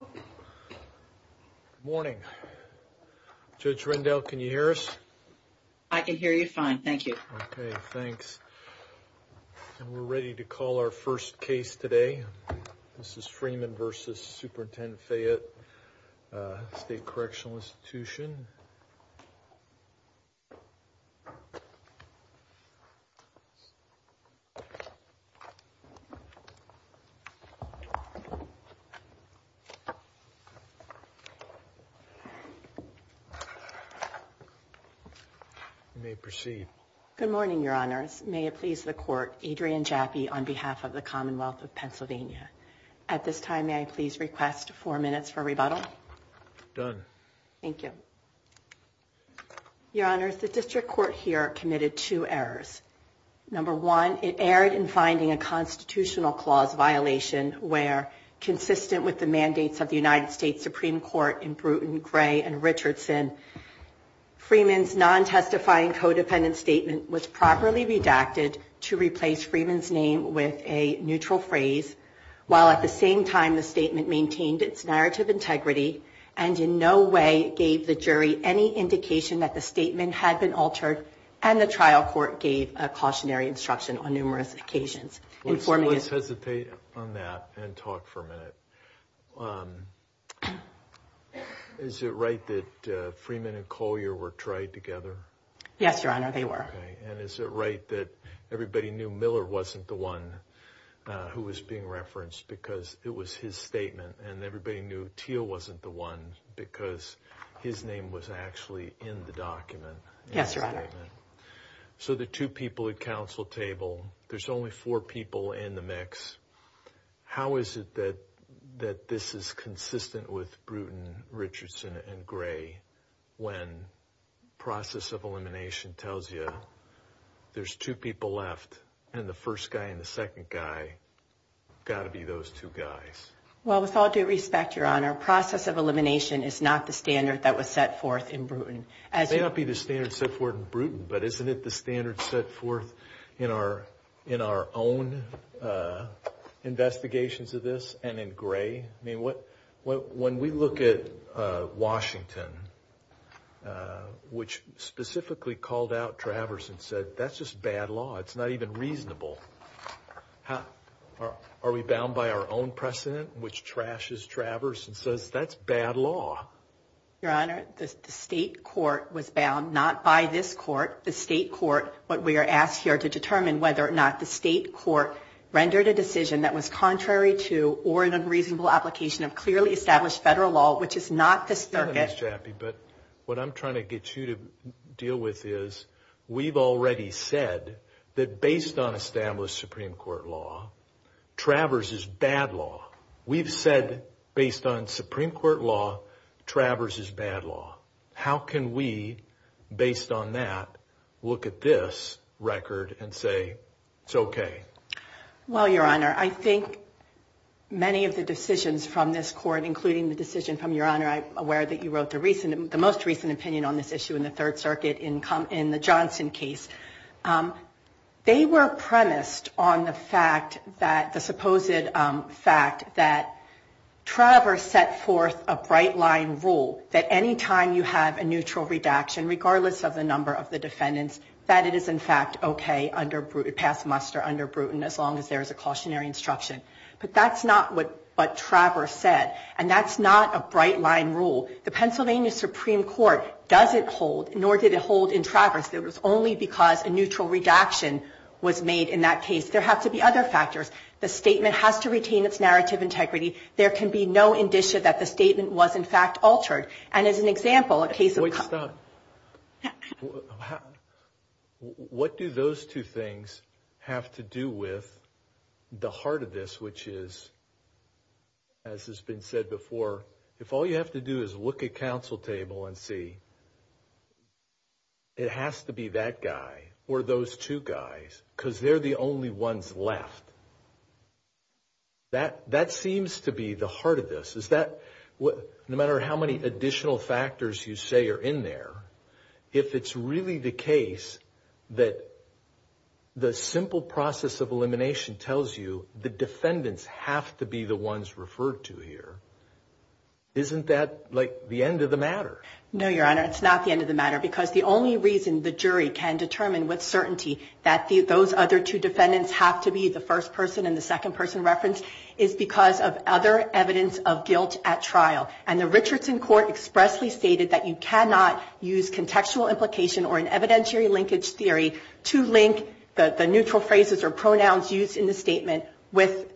Good morning. Judge Rendell, can you hear us? I can hear you fine, thank you. Okay, thanks. And we're ready to call our first case today. This is Freeman v. Superintendent Fayette State Correctional Institution. You may proceed. Good morning, Your Honors. May it please the Court, Adrian Jaffe on behalf of the Commonwealth of Pennsylvania. At this time, may I please request four minutes for rebuttal? Done. Thank you. Your Honors, the District Court here committed two errors. Number one, it erred in finding a constitutional clause violation where, consistent with the mandates of the United States Supreme Court in Bruton, Gray, and Richardson, Freeman's non-testifying codependent statement was properly redacted to replace Freeman's name with a neutral phrase, while at the same time the statement maintained its narrative integrity and in no way gave the jury any indication that the statement had been altered and the trial court gave a cautionary instruction on numerous occasions. Let's hesitate on that and talk for a minute. Is it right that Freeman and Collier were tried together? Yes, Your Honor, they were. And is it right that everybody knew Miller wasn't the one who was being referenced because it was his statement and everybody knew Teal wasn't the one because his name was actually in the document? Yes, Your Honor. So the two people at counsel table, there's only four people in the mix. How is it that this is consistent with Bruton, Richardson, and Gray when process of elimination tells you there's two people left and the first guy and the second guy have got to be those two guys? Well, with all due respect, Your Honor, process of elimination is not the standard that was set forth in Bruton. It may not be the standard set forth in Bruton, but isn't it the standard set forth in our own investigations of this and in Gray? I mean, when we look at Washington, which specifically called out Travers and said that's just bad law. It's not even reasonable. Are we bound by our own precedent, which trashes Travers and says that's bad law? Your Honor, the state court was bound, not by this court, the state court. What we are asked here to determine whether or not the state court rendered a decision that was contrary to or an unreasonable application of clearly established federal law, which is not the circuit. But what I'm trying to get you to deal with is we've already said that based on established Supreme Court law, Travers is bad law. We've said based on Supreme Court law, Travers is bad law. How can we, based on that, look at this record and say it's OK? Well, Your Honor, I think many of the decisions from this court, including the decision from Your Honor, I'm aware that you wrote the most recent opinion on this issue in the Third Circuit in the Johnson case. They were premised on the fact that, the supposed fact that Travers set forth a bright line rule that any time you have a neutral redaction, regardless of the number of the defendants, that it is in fact OK, pass muster under Bruton as long as there is a cautionary instruction. But that's not what Travers said, and that's not a bright line rule. The Pennsylvania Supreme Court doesn't hold, nor did it hold in Travers, that it was only because a neutral redaction was made in that case. There have to be other factors. The statement has to retain its narrative integrity. There can be no indicia that the statement was, in fact, altered. And as an example, a case of... Wait, stop. What do those two things have to do with the heart of this, which is, as has been said before, if all you have to do is look at counsel table and see, it has to be that guy or those two guys, because they're the only ones left. That seems to be the heart of this. No matter how many additional factors you say are in there, if it's really the case that the simple process of elimination tells you the defendants have to be the ones referred to here, isn't that, like, the end of the matter? No, Your Honor, it's not the end of the matter, because the only reason the jury can determine with certainty that those other two defendants have to be the first person and the second person referenced is because of other evidence of guilt at trial. And the Richardson court expressly stated that you cannot use contextual implication or an evidentiary linkage theory to link the neutral phrases or pronouns used in the statement with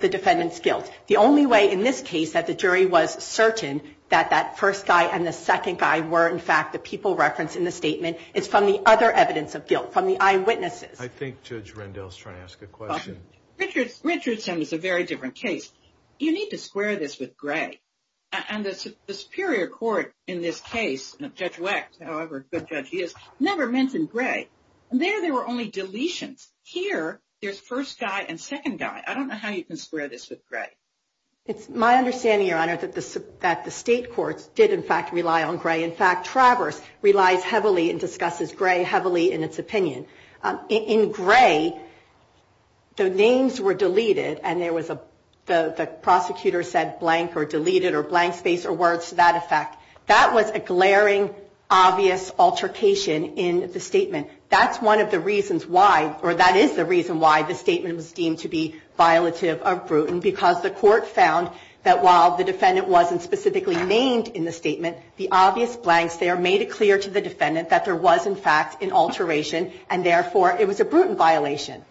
the defendant's guilt. The only way in this case that the jury was certain that that first guy and the second guy were, in fact, the people referenced in the statement is from the other evidence of guilt, from the eyewitnesses. I think Judge Rendell is trying to ask a question. Richardson is a very different case. You need to square this with Gray. And the Superior Court in this case, Judge Wecht, however good Judge he is, never mentioned Gray. There, there were only deletions. Here, there's first guy and second guy. I don't know how you can square this with Gray. It's my understanding, Your Honor, that the state courts did, in fact, rely on Gray. In fact, Travers relies heavily and discusses Gray heavily in its opinion. In Gray, the names were deleted and there was a, the prosecutor said blank or deleted or blank space or words to that effect. That was a glaring, obvious altercation in the statement. That's one of the reasons why, or that is the reason why the statement was deemed to be violative or brutal because the court found that while the defendant wasn't specifically named in the statement, the obvious blanks there made it clear to the defendant that there was, in fact, an alteration and, therefore, it was a brutal violation.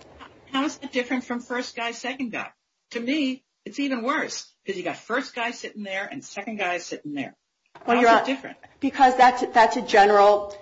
How is it different from first guy, second guy? To me, it's even worse because you've got first guy sitting there and second guy sitting there. How is it different? Because that's a general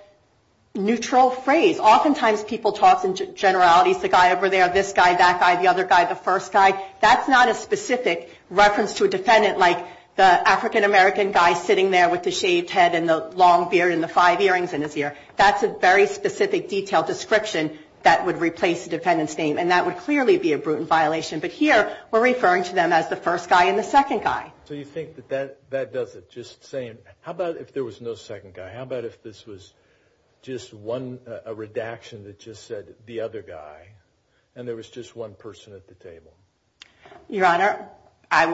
neutral phrase. Oftentimes, people talk in generalities, the guy over there, this guy, that guy, the other guy, the first guy. That's not a specific reference to a defendant like the African-American guy sitting there with the shaved head and the long beard and the five earrings in his ear. That's a very specific detailed description that would replace the defendant's name and that would clearly be a brutal violation. But here, we're referring to them as the first guy and the second guy. So you think that that does it, just saying, how about if there was no second guy? How about if this was just a redaction that just said, the other guy, and there was just one person at the table? Your Honor, I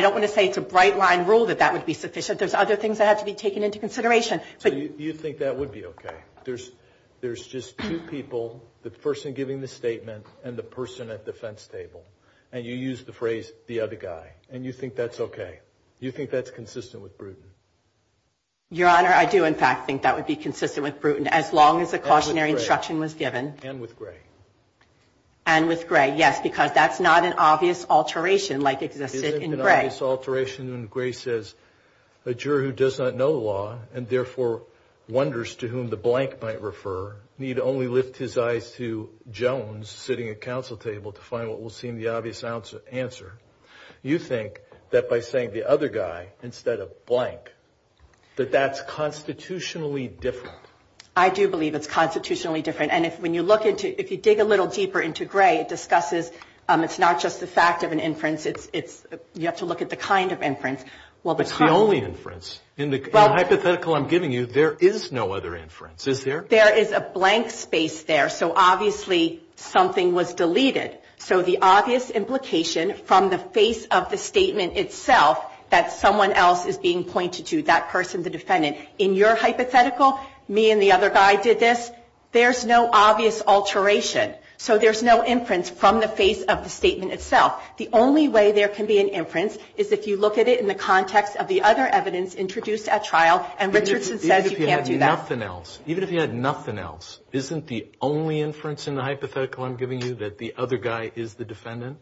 don't want to say it's a bright-line rule that that would be sufficient. There's other things that have to be taken into consideration. So you think that would be okay? There's just two people, the person giving the statement and the person at the fence table, and you use the phrase, the other guy, and you think that's okay? You think that's consistent with Bruton? Your Honor, I do, in fact, think that would be consistent with Bruton, as long as the cautionary instruction was given. And with Gray? And with Gray, yes, because that's not an obvious alteration like existed in Gray. Isn't it an obvious alteration when Gray says, a juror who does not know the law and therefore wonders to whom the blank might refer need only lift his eyes to Jones sitting at counsel table to find what will seem the obvious answer. You think that by saying the other guy instead of blank, that that's constitutionally different? I do believe it's constitutionally different. And if you dig a little deeper into Gray, it discusses it's not just the fact of an inference, you have to look at the kind of inference. It's the only inference. In the hypothetical I'm giving you, there is no other inference, is there? There is a blank space there, so obviously something was deleted. So the obvious implication from the face of the statement itself that someone else is being pointed to, that person, the defendant, in your hypothetical, me and the other guy did this, there's no obvious alteration. So there's no inference from the face of the statement itself. The only way there can be an inference is if you look at it in the context of the other evidence introduced at trial and Richardson says you can't do that. Even if you had nothing else, isn't the only inference in the hypothetical I'm giving you that the other guy is the defendant?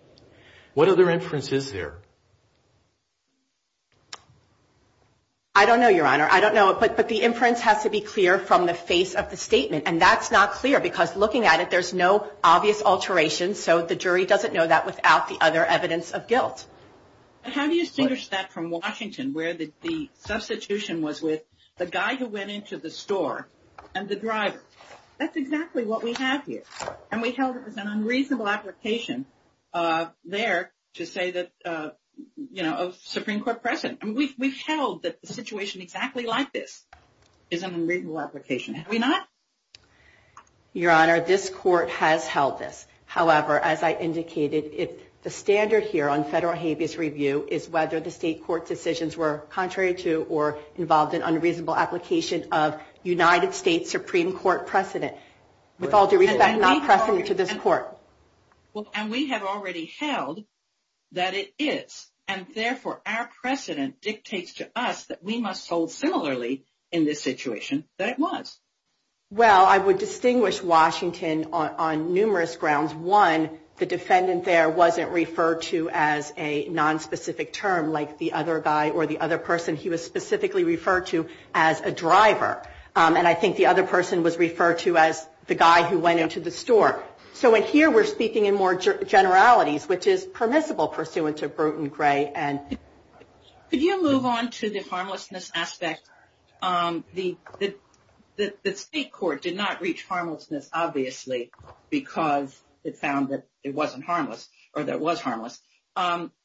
What other inference is there? I don't know, Your Honor. I don't know. But the inference has to be clear from the face of the statement. And that's not clear because looking at it, there's no obvious alteration, so the jury doesn't know that without the other evidence of guilt. How do you distinguish that from Washington where the substitution was with the guy who went into the store and the driver? That's exactly what we have here. And we held it was an unreasonable application there to say that, you know, a Supreme Court precedent. And we've held that the situation exactly like this is an unreasonable application. Have we not? Your Honor, this Court has held this. However, as I indicated, the standard here on federal habeas review is whether the state court decisions were contrary to or involved in unreasonable application of United States Supreme Court precedent. With all due respect, not precedent to this Court. And we have already held that it is. And, therefore, our precedent dictates to us that we must hold similarly in this situation that it was. Well, I would distinguish Washington on numerous grounds. One, the defendant there wasn't referred to as a nonspecific term like the other guy or the other person. He was specifically referred to as a driver. And I think the other person was referred to as the guy who went into the store. So in here we're speaking in more generalities, which is permissible pursuant to Bruton, Gray, and. Could you move on to the harmlessness aspect? The state court did not reach harmlessness, obviously, because it found that it wasn't harmless or that it was harmless.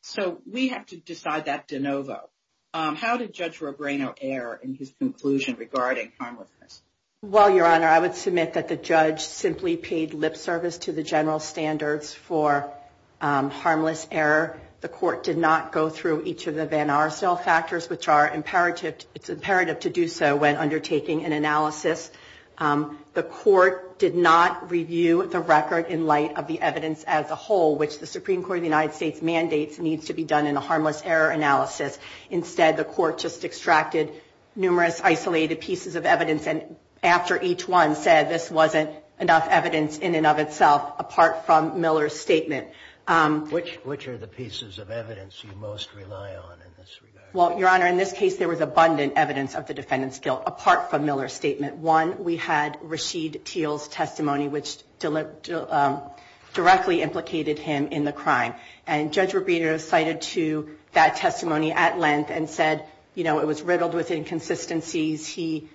So we have to decide that de novo. How did Judge Robreno err in his conclusion regarding harmlessness? Well, Your Honor, I would submit that the judge simply paid lip service to the general standards for harmless error. The court did not go through each of the Van Arsdale factors, which are imperative. It's imperative to do so when undertaking an analysis. The court did not review the record in light of the evidence as a whole, which the Supreme Court of the United States mandates needs to be done in a harmless error analysis. Instead, the court just extracted numerous isolated pieces of evidence. And after each one said this wasn't enough evidence in and of itself, apart from Miller's statement. Which are the pieces of evidence you most rely on in this regard? Well, Your Honor, in this case, there was abundant evidence of the defendant's guilt, apart from Miller's statement. One, we had Rashid Teal's testimony, which directly implicated him in the crime. And Judge Robreno cited to that testimony at length and said, you know, it was riddled with inconsistencies. He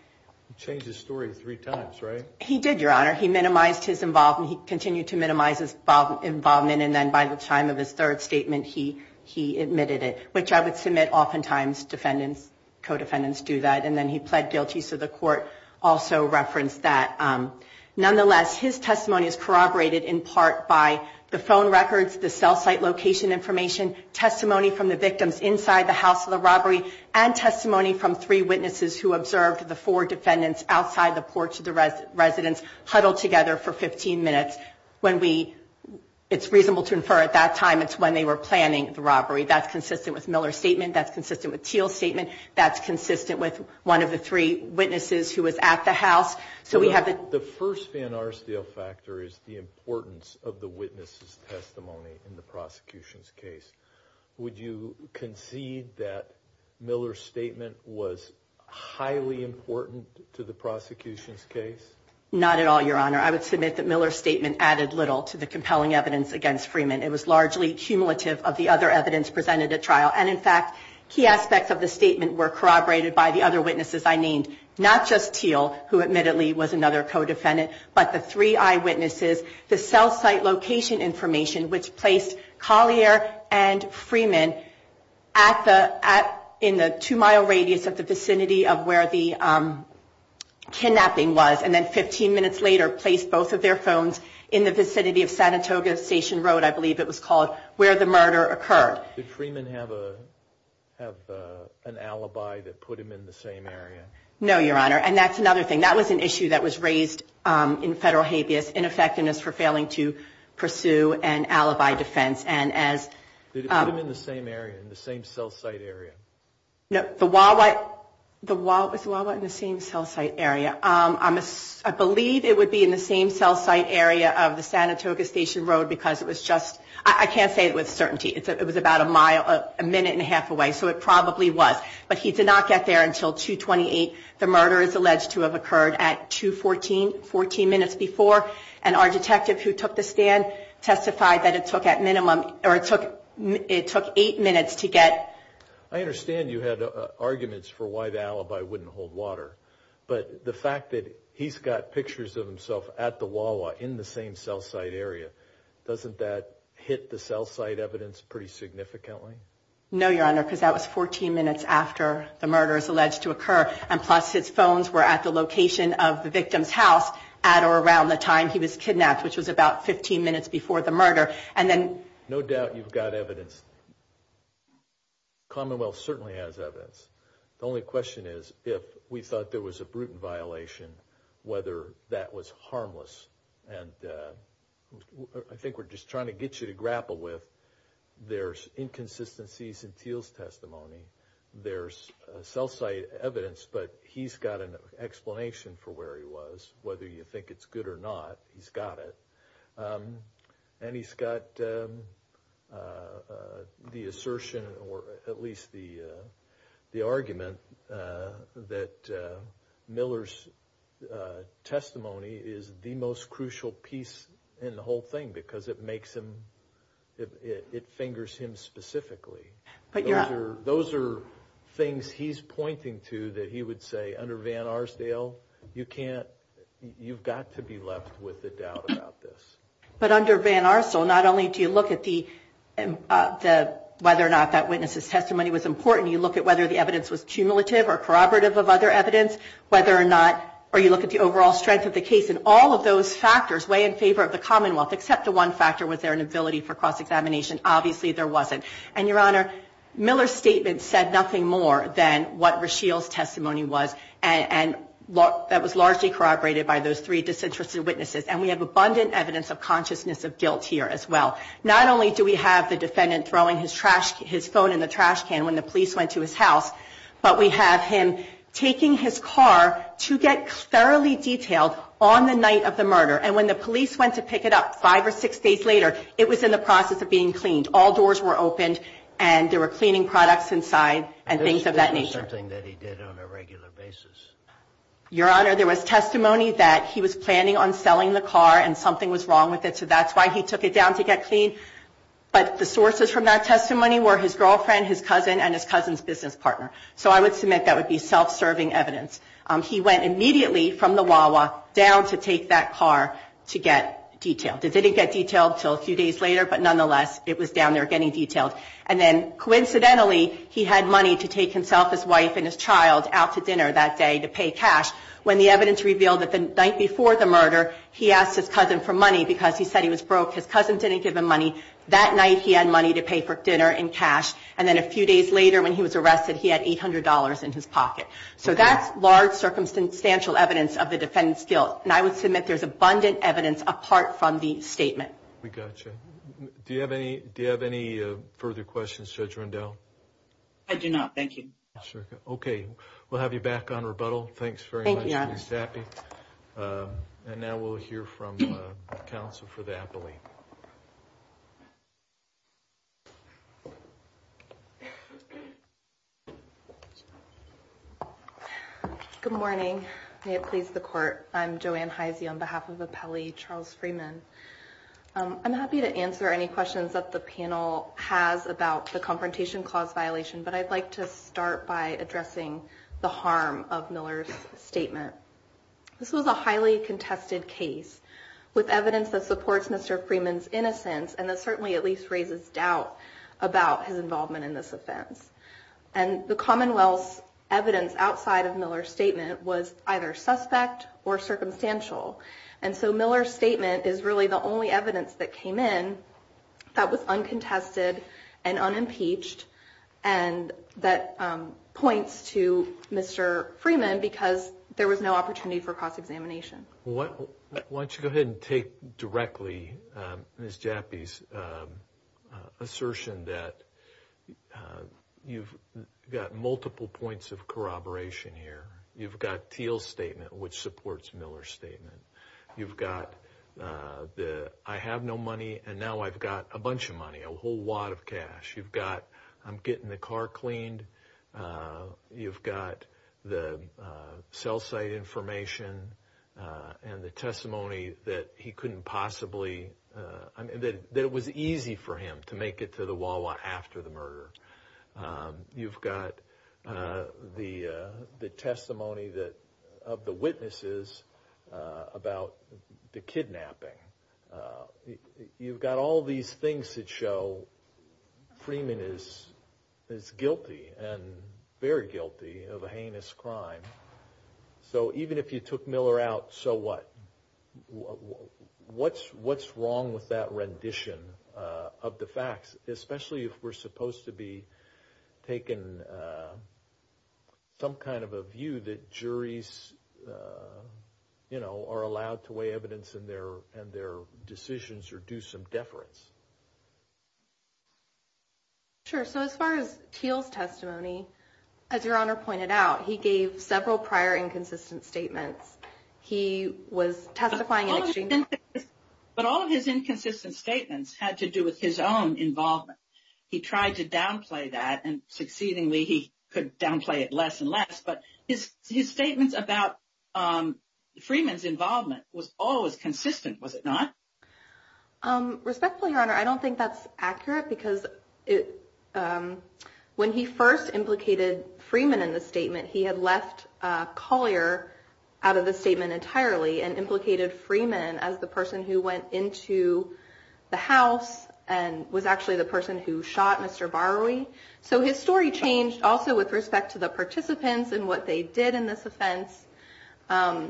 changed his story three times, right? He did, Your Honor. He minimized his involvement. He continued to minimize his involvement. And then by the time of his third statement, he admitted it. Which I would submit oftentimes defendants, co-defendants do that. And then he pled guilty. So the court also referenced that. Nonetheless, his testimony is corroborated in part by the phone records, the cell site location information. Testimony from the victims inside the house of the robbery. And testimony from three witnesses who observed the four defendants outside the porch of the residence huddled together for 15 minutes. When we, it's reasonable to infer at that time it's when they were planning the robbery. That's consistent with Miller's statement. That's consistent with Teal's statement. That's consistent with one of the three witnesses who was at the house. So we have the. The first Van Arsdale factor is the importance of the witness's testimony in the prosecution's case. Would you concede that Miller's statement was highly important to the prosecution's case? Not at all, Your Honor. I would submit that Miller's statement added little to the compelling evidence against Freeman. It was largely cumulative of the other evidence presented at trial. And, in fact, key aspects of the statement were corroborated by the other witnesses I named. Not just Teal, who admittedly was another co-defendant, but the three eyewitnesses, the cell site location information, which placed Collier and Freeman in the two-mile radius of the vicinity of where the kidnapping was, and then 15 minutes later placed both of their phones in the vicinity of San Antonio Station Road, I believe it was called, where the murder occurred. Did Freeman have an alibi that put him in the same area? No, Your Honor. And that's another thing. That was an issue that was raised in Federal Habeas, ineffectiveness for failing to pursue an alibi defense. Did it put him in the same area, in the same cell site area? No. The Wawa. Was the Wawa in the same cell site area? I believe it would be in the same cell site area of the San Antonio Station Road because it was just... I'm not going to say it was certainty. It was about a minute and a half away, so it probably was, but he did not get there until 2-28. The murder is alleged to have occurred at 2-14, 14 minutes before, and our detective who took the stand testified that it took at minimum, or it took eight minutes to get... I understand you had arguments for why the alibi wouldn't hold water, but the fact that he's got pictures of himself at the Wawa in the same cell site area, doesn't that hit the cell site evidence pretty significantly? No, Your Honor, because that was 14 minutes after the murder is alleged to occur, and plus his phones were at the location of the victim's house at or around the time he was kidnapped, which was about 15 minutes before the murder, and then... No doubt you've got evidence. Commonwealth certainly has evidence. The only question is if we thought there was a brutal violation, whether that was harmless, and I think we're just trying to get you to grapple with there's inconsistencies in Thiel's testimony. There's cell site evidence, but he's got an explanation for where he was, whether you think it's good or not, he's got it. And he's got the assertion, or at least the argument, that Miller's testimony is the most crucial piece in the whole thing because it fingers him specifically. Those are things he's pointing to that he would say under Van Arsdale, you've got to be left with a doubt about this. But under Van Arsdale, not only do you look at whether or not that witness's testimony was important, you look at whether the evidence was cumulative or corroborative of other evidence, or you look at the overall strength of the case, and all of those factors weigh in favor of the Commonwealth, except the one factor, was there an ability for cross-examination? Obviously there wasn't. And, Your Honor, Miller's statement said nothing more than what Rasheel's testimony was, and that was largely corroborated by those three disinterested witnesses, and we have abundant evidence of consciousness of guilt here as well. Not only do we have the defendant throwing his phone in the trash can when the police went to his house, but we have him taking his car to get thoroughly detailed on the night of the murder, and when the police went to pick it up five or six days later, it was in the process of being cleaned. All doors were opened, and there were cleaning products inside and things of that nature. This wasn't something that he did on a regular basis. Your Honor, there was testimony that he was planning on selling the car and something was wrong with it, so that's why he took it down to get clean. But the sources from that testimony were his girlfriend, his cousin, and his cousin's business partner. So I would submit that would be self-serving evidence. He went immediately from the Wawa down to take that car to get detailed. It didn't get detailed until a few days later, but nonetheless, it was down there getting detailed. And then coincidentally, he had money to take himself, his wife, and his child out to dinner that day to pay cash, when the evidence revealed that the night before the murder, he asked his cousin for money because he said he was broke. His cousin didn't give him money. That night, he had money to pay for dinner and cash, and then a few days later when he was arrested, he had $800 in his pocket. So that's large circumstantial evidence of the defendant's guilt, and I would submit there's abundant evidence apart from the statement. We got you. Do you have any further questions, Judge Rundell? I do not. Thank you. Okay. We'll have you back on rebuttal. Thanks very much, Ms. Tappe. Thank you, Your Honor. And now we'll hear from counsel for the appellee. Good morning. May it please the Court. I'm Joanne Heisey on behalf of Appellee Charles Freeman. I'm happy to answer any questions that the panel has about the Confrontation Clause violation, but I'd like to start by addressing the harm of Miller's statement. This was a highly contested case with evidence that supports Mr. Freeman's innocence and that certainly at least raises doubt about his involvement in this offense. And the Commonwealth's evidence outside of Miller's statement was either suspect or circumstantial, and so Miller's statement is really the only evidence that came in that was uncontested and unimpeached and that points to Mr. Freeman because there was no opportunity for cross-examination. Why don't you go ahead and take directly Ms. Tappe's assertion that you've got multiple points of corroboration here. You've got Thiel's statement, which supports Miller's statement. You've got the I have no money and now I've got a bunch of money, a whole wad of cash. You've got I'm getting the car cleaned. You've got the cell site information and the testimony that he couldn't possibly, that it was easy for him to make it to the Wawa after the murder. You've got the testimony of the witnesses about the kidnapping. You've got all these things that show Freeman is guilty and very guilty of a heinous crime. So even if you took Miller out, so what? What's wrong with that rendition of the facts, especially if we're supposed to be taking some kind of a view that juries are allowed to weigh evidence in their decisions or do some deference? Sure. So as far as Thiel's testimony, as Your Honor pointed out, he gave several prior inconsistent statements. He was testifying in exchange. But all of his inconsistent statements had to do with his own involvement. He tried to downplay that and succeedingly he could downplay it less and less. But his statements about Freeman's involvement was always consistent, was it not? Respectfully, Your Honor, I don't think that's accurate, because when he first implicated Freeman in the statement, he had left Collier out of the statement entirely and implicated Freeman as the person who went into the house and was actually the person who shot Mr. Barwi. So his story changed also with respect to the participants and what they did in this offense. Well,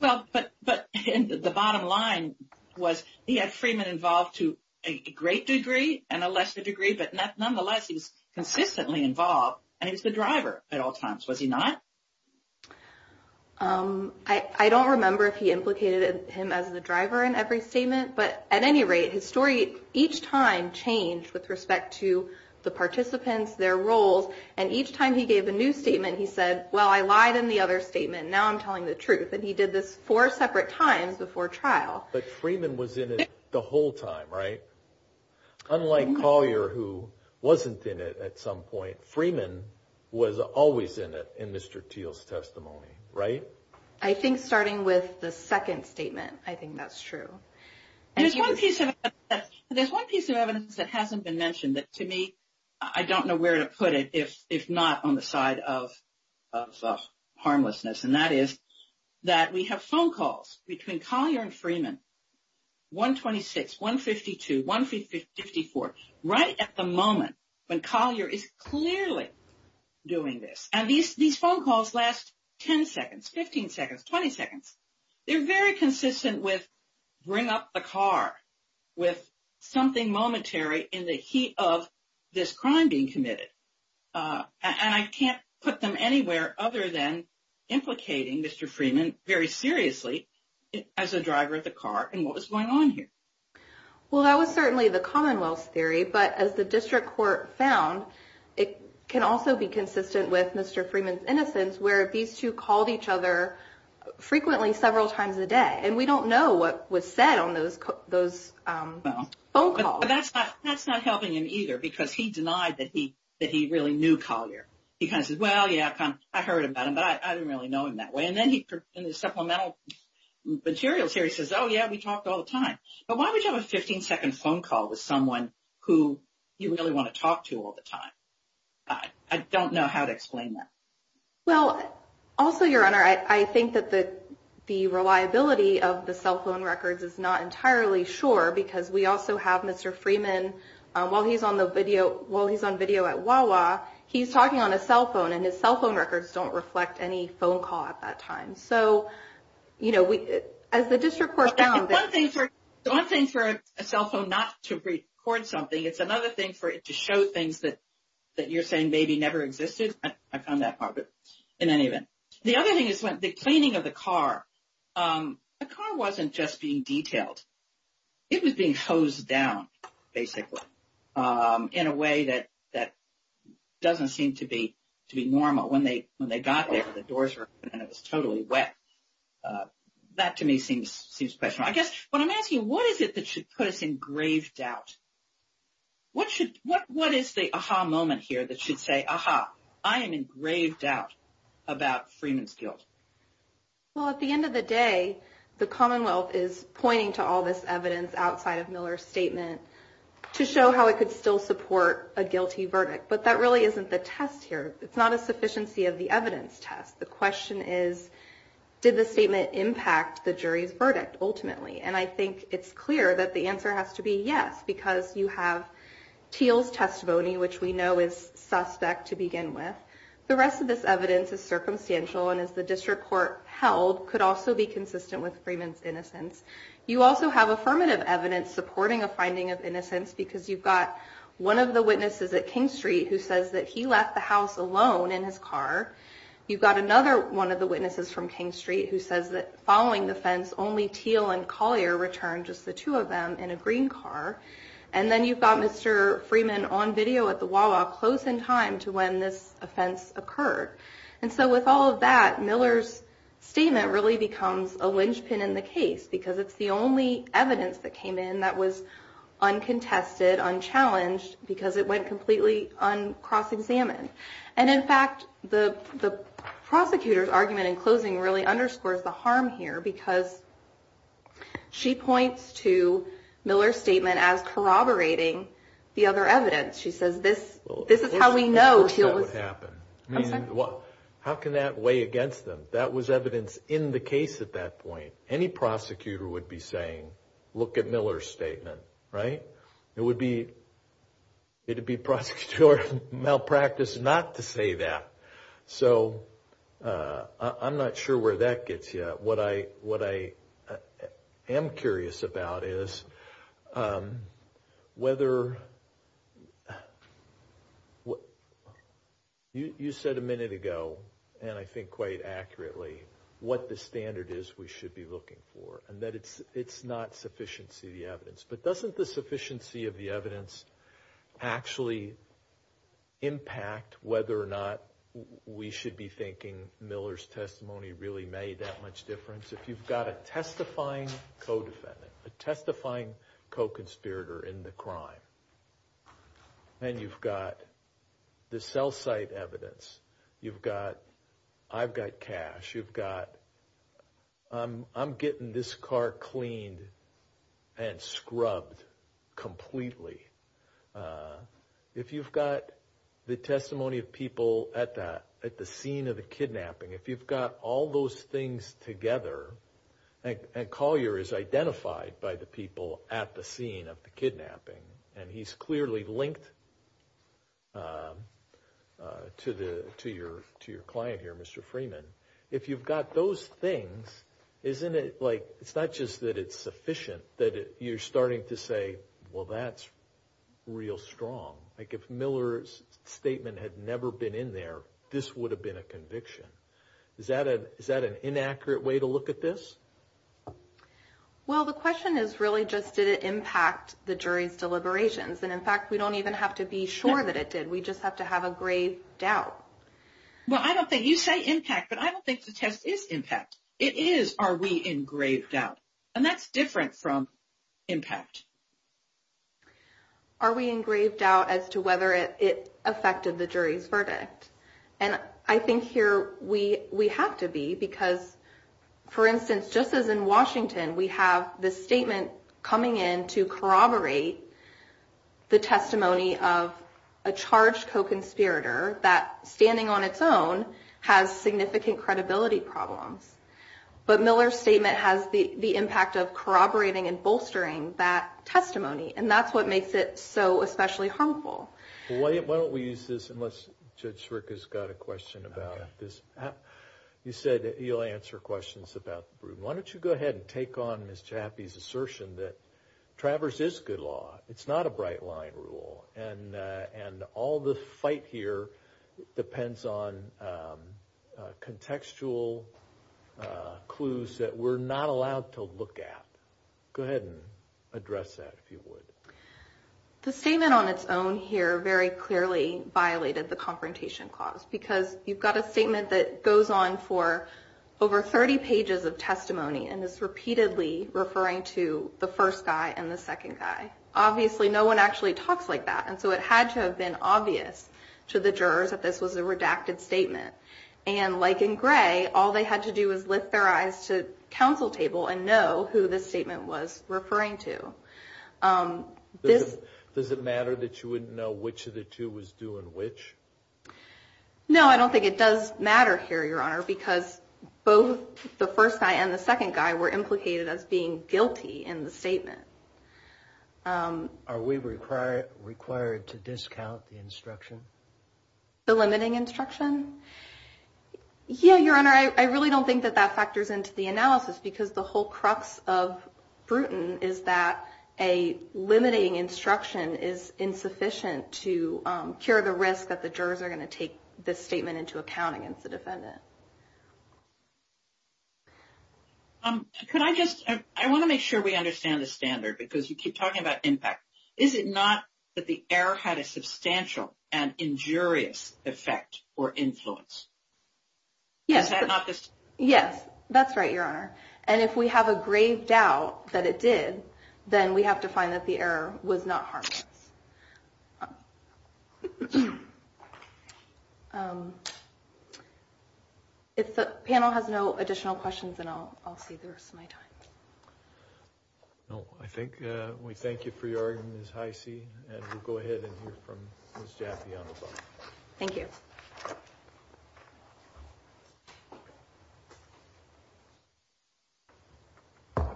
but the bottom line was he had Freeman involved to a great degree and a lesser degree. But nonetheless, he was consistently involved and he was the driver at all times, was he not? I don't remember if he implicated him as the driver in every statement. But at any rate, his story each time changed with respect to the participants, their roles. And each time he gave a new statement, he said, well, I lied in the other statement. Now I'm telling the truth. And he did this four separate times before trial. But Freeman was in it the whole time, right? Unlike Collier, who wasn't in it at some point, Freeman was always in it in Mr. Thiel's testimony, right? I think starting with the second statement, I think that's true. There's one piece of evidence that hasn't been mentioned that, to me, I don't know where to put it, if not on the side of harmlessness. And that is that we have phone calls between Collier and Freeman, 126, 152, 154, right at the moment when Collier is clearly doing this. And these phone calls last 10 seconds, 15 seconds, 20 seconds. They're very consistent with bring up the car, with something momentary in the heat of this crime being committed. And I can't put them anywhere other than implicating Mr. Freeman very seriously as a driver of the car in what was going on here. Well, that was certainly the Commonwealth's theory. But as the district court found, it can also be consistent with Mr. Freeman's innocence, where these two called each other frequently several times a day. And we don't know what was said on those phone calls. That's not helping him either, because he denied that he really knew Collier. He kind of said, well, yeah, I heard about him, but I didn't really know him that way. And then in the supplemental materials here, he says, oh, yeah, we talked all the time. But why would you have a 15-second phone call with someone who you really want to talk to all the time? I don't know how to explain that. Well, also, Your Honor, I think that the reliability of the cell phone records is not entirely sure, because we also have Mr. Freeman, while he's on video at Wawa, he's talking on a cell phone, and his cell phone records don't reflect any phone call at that time. So, you know, as the district court found. One thing for a cell phone not to record something, it's another thing for it to show things that you're saying maybe never existed. I found that part, but in any event. The other thing is the cleaning of the car. The car wasn't just being detailed. It was being hosed down, basically, in a way that doesn't seem to be normal. When they got there, the doors were open and it was totally wet. That, to me, seems questionable. I guess what I'm asking, what is it that should put us in grave doubt? What is the aha moment here that should say, aha, I am in grave doubt about Freeman's guilt? Well, at the end of the day, the Commonwealth is pointing to all this evidence outside of Miller's statement to show how it could still support a guilty verdict. But that really isn't the test here. It's not a sufficiency of the evidence test. The question is, did the statement impact the jury's verdict, ultimately? And I think it's clear that the answer has to be yes, because you have Teal's testimony, which we know is suspect to begin with. The rest of this evidence is circumstantial and, as the district court held, could also be consistent with Freeman's innocence. You also have affirmative evidence supporting a finding of innocence, because you've got one of the witnesses at King Street who says that he left the house alone in his car. You've got another one of the witnesses from King Street who says that, following the fence, only Teal and Collier returned, just the two of them, in a green car. And then you've got Mr. Freeman on video at the Wawa, close in time to when this offense occurred. And so with all of that, Miller's statement really becomes a linchpin in the case, because it's the only evidence that came in that was uncontested, unchallenged, because it went completely uncross-examined. And, in fact, the prosecutor's argument in closing really underscores the harm here, because she points to Miller's statement as corroborating the other evidence. She says, this is how we know Teal was... How can that weigh against them? That was evidence in the case at that point. Any prosecutor would be saying, look at Miller's statement, right? It would be prosecutor malpractice not to say that. So I'm not sure where that gets you. What I am curious about is whether... You said a minute ago, and I think quite accurately, what the standard is we should be looking for, and that it's not sufficiency of the evidence. But doesn't the sufficiency of the evidence actually impact whether or not we should be thinking Miller's testimony really made that much difference? If you've got a testifying co-defendant, a testifying co-conspirator in the crime, and you've got the cell site evidence, you've got... I'm getting this car cleaned and scrubbed completely. If you've got the testimony of people at the scene of the kidnapping, if you've got all those things together... And Collier is identified by the people at the scene of the kidnapping, and he's clearly linked to your client here, Mr. Freeman. If you've got those things, it's not just that it's sufficient that you're starting to say, well, that's real strong. If Miller's statement had never been in there, this would have been a conviction. Is that an inaccurate way to look at this? Well, the question is really just did it impact the jury's deliberations? And in fact, we don't even have to be sure that it did. We just have to have a grave doubt. Well, I don't think... You say impact, but I don't think the test is impact. It is, are we in grave doubt? And that's different from impact. Are we in grave doubt as to whether it affected the jury's verdict? And I think here we have to be, because, for instance, just as in Washington, we have this statement coming in to corroborate the testimony of a charged co-conspirator that, standing on its own, has significant credibility problems. But Miller's statement has the impact of corroborating and bolstering that testimony, and that's what makes it so especially harmful. Well, why don't we use this, unless Judge Schrick has got a question about this? You said that you'll answer questions about the Bruton. Why don't you go ahead and take on Ms. Chappie's assertion that Travers is good law. It's not a bright-line rule, and all the fight here depends on contextual clues that we're not allowed to look at. Go ahead and address that, if you would. The statement on its own here very clearly violated the Confrontation Clause, because you've got a statement that goes on for over 30 pages of testimony and is repeatedly referring to the first guy and the second guy. Obviously, no one actually talks like that, and so it had to have been obvious to the jurors that this was a redacted statement. And like in gray, all they had to do was lift their eyes to counsel table and know who this statement was referring to. Does it matter that you wouldn't know which of the two was doing which? No, I don't think it does matter here, Your Honor, because both the first guy and the second guy were implicated as being guilty in the statement. The limiting instruction? Yeah, Your Honor, I really don't think that that factors into the analysis, because the whole crux of Bruton is that a limiting instruction is insufficient to cure the risk that the jurors are going to take this statement into account against the defendant. I want to make sure we understand the standard, because you keep talking about impact. Is it not that the error had a substantial and injurious effect or influence? Yes, that's right, Your Honor. And if we have a grave doubt that it did, then we have to find that the error was not harmless. If the panel has no additional questions, then I'll see the rest of my time. No, I think we thank you for your argument, Ms. Heise, and we'll go ahead and hear from Ms. Jaffe on the phone. Thank you. Good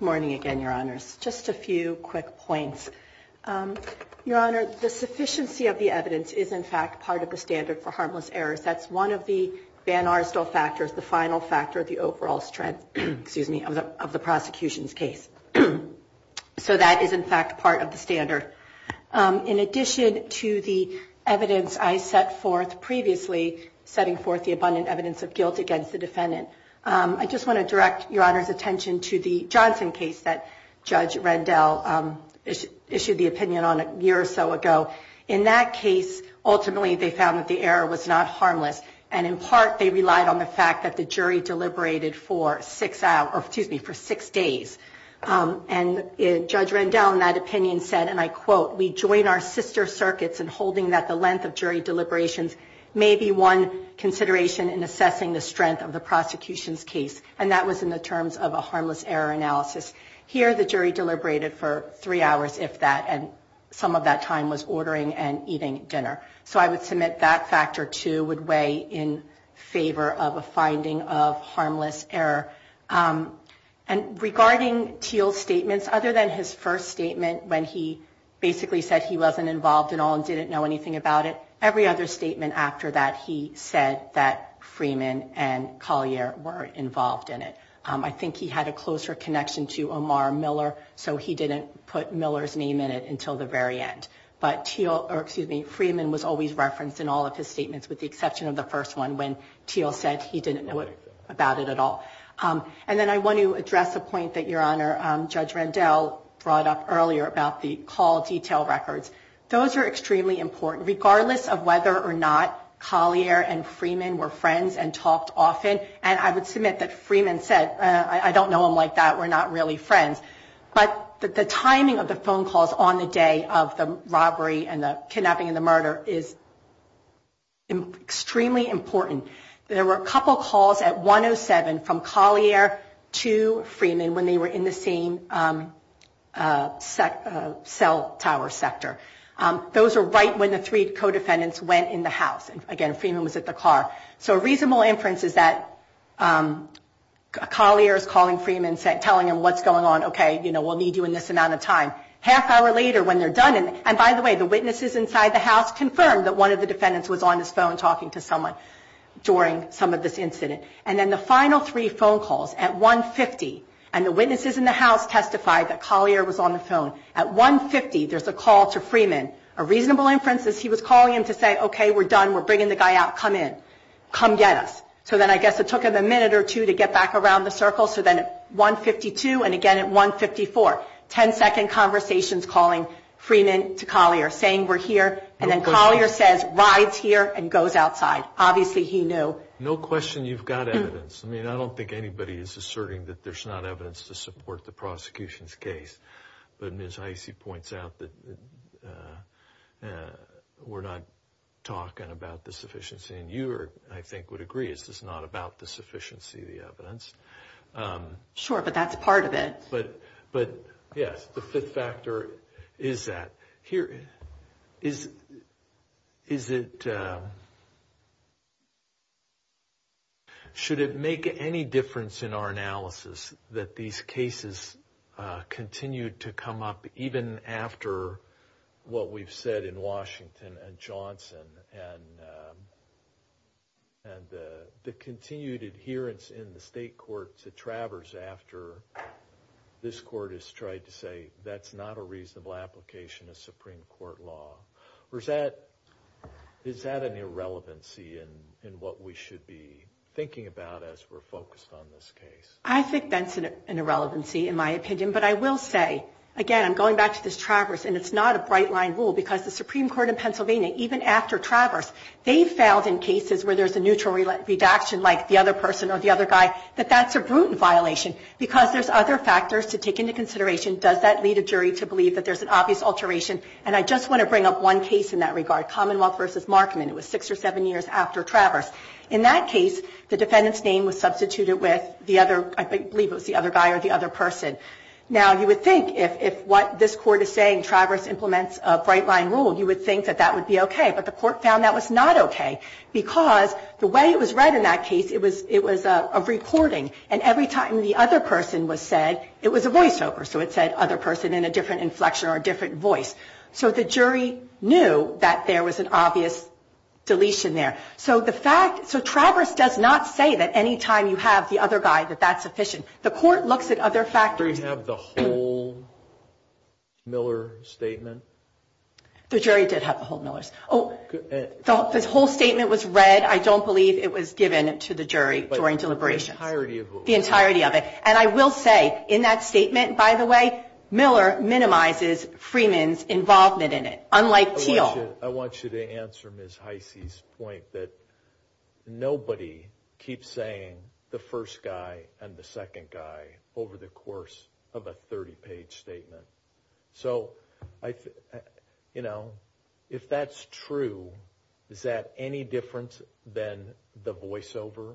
morning again, Your Honors. Just a few quick points. Your Honor, the sufficiency of the evidence is, in fact, part of the standard for harmless errors. That's one of the van Arsdal factors, the final factor of the overall strength of the prosecution's case. So that is, in fact, part of the standard. In addition to the evidence I set forth previously, setting forth the abundant evidence of guilt against the defendant, I just want to direct Your Honor's attention to the Johnson case that Judge Rendell issued the opinion on a year or so ago. In that case, ultimately they found that the error was not harmless, and in part they relied on the fact that the jury deliberated for six days. And Judge Rendell in that opinion said, and I quote, We join our sister circuits in holding that the length of jury deliberations may be one consideration in assessing the strength of the prosecution's case. And that was in the terms of a harmless error analysis. Here the jury deliberated for three hours, if that, and some of that time was ordering and eating dinner. So I would submit that factor, too, would weigh in favor of a finding of harmless error. And regarding Thiel's statements, other than his first statement when he basically said he wasn't involved at all and didn't know anything about it, every other statement after that he said that Freeman and Collier were involved in it. I think he had a closer connection to Omar Miller, so he didn't put Miller's name in it until the very end. But Freeman was always referenced in all of his statements with the exception of the first one when Thiel said he didn't know about it at all. And then I want to address a point that Your Honor, Judge Rendell brought up earlier about the call detail records. Those are extremely important, regardless of whether or not Collier and Freeman were friends and talked often. And I would submit that Freeman said, I don't know him like that, we're not really friends. But the timing of the phone calls on the day of the robbery and the kidnapping and the murder is extremely important. There were a couple calls at 107 from Collier to Freeman when they were in the same cell tower sector. Those were right when the three co-defendants went in the house. Again, Freeman was at the car. So a reasonable inference is that Collier is calling Freeman, telling him what's going on, okay, we'll need you in this amount of time. Half hour later when they're done, and by the way, the witnesses inside the house confirmed that one of the defendants was on his phone talking to someone during some of this incident. And then the final three phone calls at 150, and the witnesses in the house testified that Collier was on the phone. Again, a reasonable inference is he was calling him to say, okay, we're done, we're bringing the guy out, come in, come get us. So then I guess it took him a minute or two to get back around the circle. So then at 152 and again at 154, 10-second conversations calling Freeman to Collier, saying we're here. And then Collier says, rides here and goes outside. Obviously he knew. No question you've got evidence. I mean, I don't think anybody is asserting that there's not evidence to support the prosecution's case. But Ms. Heise points out that we're not talking about the sufficiency. And you, I think, would agree, it's just not about the sufficiency of the evidence. Sure, but that's part of it. But yes, the fifth factor is that. Here, is it, should it make any difference in our analysis that these cases continue to come up even after what we've said in Washington and Johnson? And the continued adherence in the state court to Travers after this court has tried to say that's not a reasonable application of Supreme Court law? Or is that an irrelevancy in what we should be thinking about as we're focused on this case? I think that's an irrelevancy in my opinion. But I will say, again, I'm going back to this Travers, and it's not a bright line rule. Because the Supreme Court in Pennsylvania, even after Travers, they've found in cases where there's a neutral redaction like the other person or the other guy, that that's a brutal violation. Because there's other factors to take into consideration. Does that lead a jury to believe that there's an obvious alteration? And I just want to bring up one case in that regard, Commonwealth v. Markman. It was six or seven years after Travers. In that case, the defendant's name was substituted with the other, I believe it was the other guy or the other person. Now, you would think if what this court is saying, Travers implements a bright line rule, you would think that that would be okay. But the court found that was not okay. Because the way it was read in that case, it was a recording. And every time the other person was said, it was a voiceover. So it said other person in a different inflection or a different voice. So the jury knew that there was an obvious deletion there. So the fact so Travers does not say that any time you have the other guy that that's sufficient. The court looks at other factors. Did the jury have the whole Miller statement? The jury did have the whole Miller's. Oh, this whole statement was read. I don't believe it was given to the jury during deliberations. The entirety of it. The entirety of it. And I will say in that statement, by the way, Miller minimizes Freeman's involvement in it, unlike Teal. I want you to answer Ms. Heisey's point that nobody keeps saying the first guy and the second guy over the course of a 30-page statement. So, you know, if that's true, is that any different than the voiceover?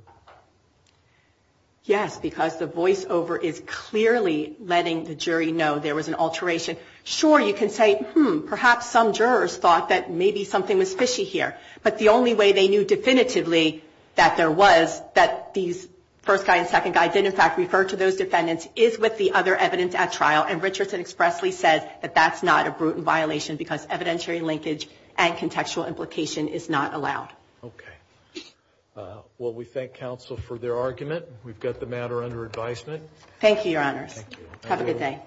Yes, because the voiceover is clearly letting the jury know there was an alteration. Sure, you can say, hmm, perhaps some jurors thought that maybe something was fishy here. But the only way they knew definitively that there was, that these first guy and second guy did, in fact, refer to those defendants, is with the other evidence at trial. And Richardson expressly said that that's not a brutal violation because evidentiary linkage and contextual implication is not allowed. Okay. Well, we thank counsel for their argument. We've got the matter under advisement. Thank you, Your Honors. Thank you. Have a good day.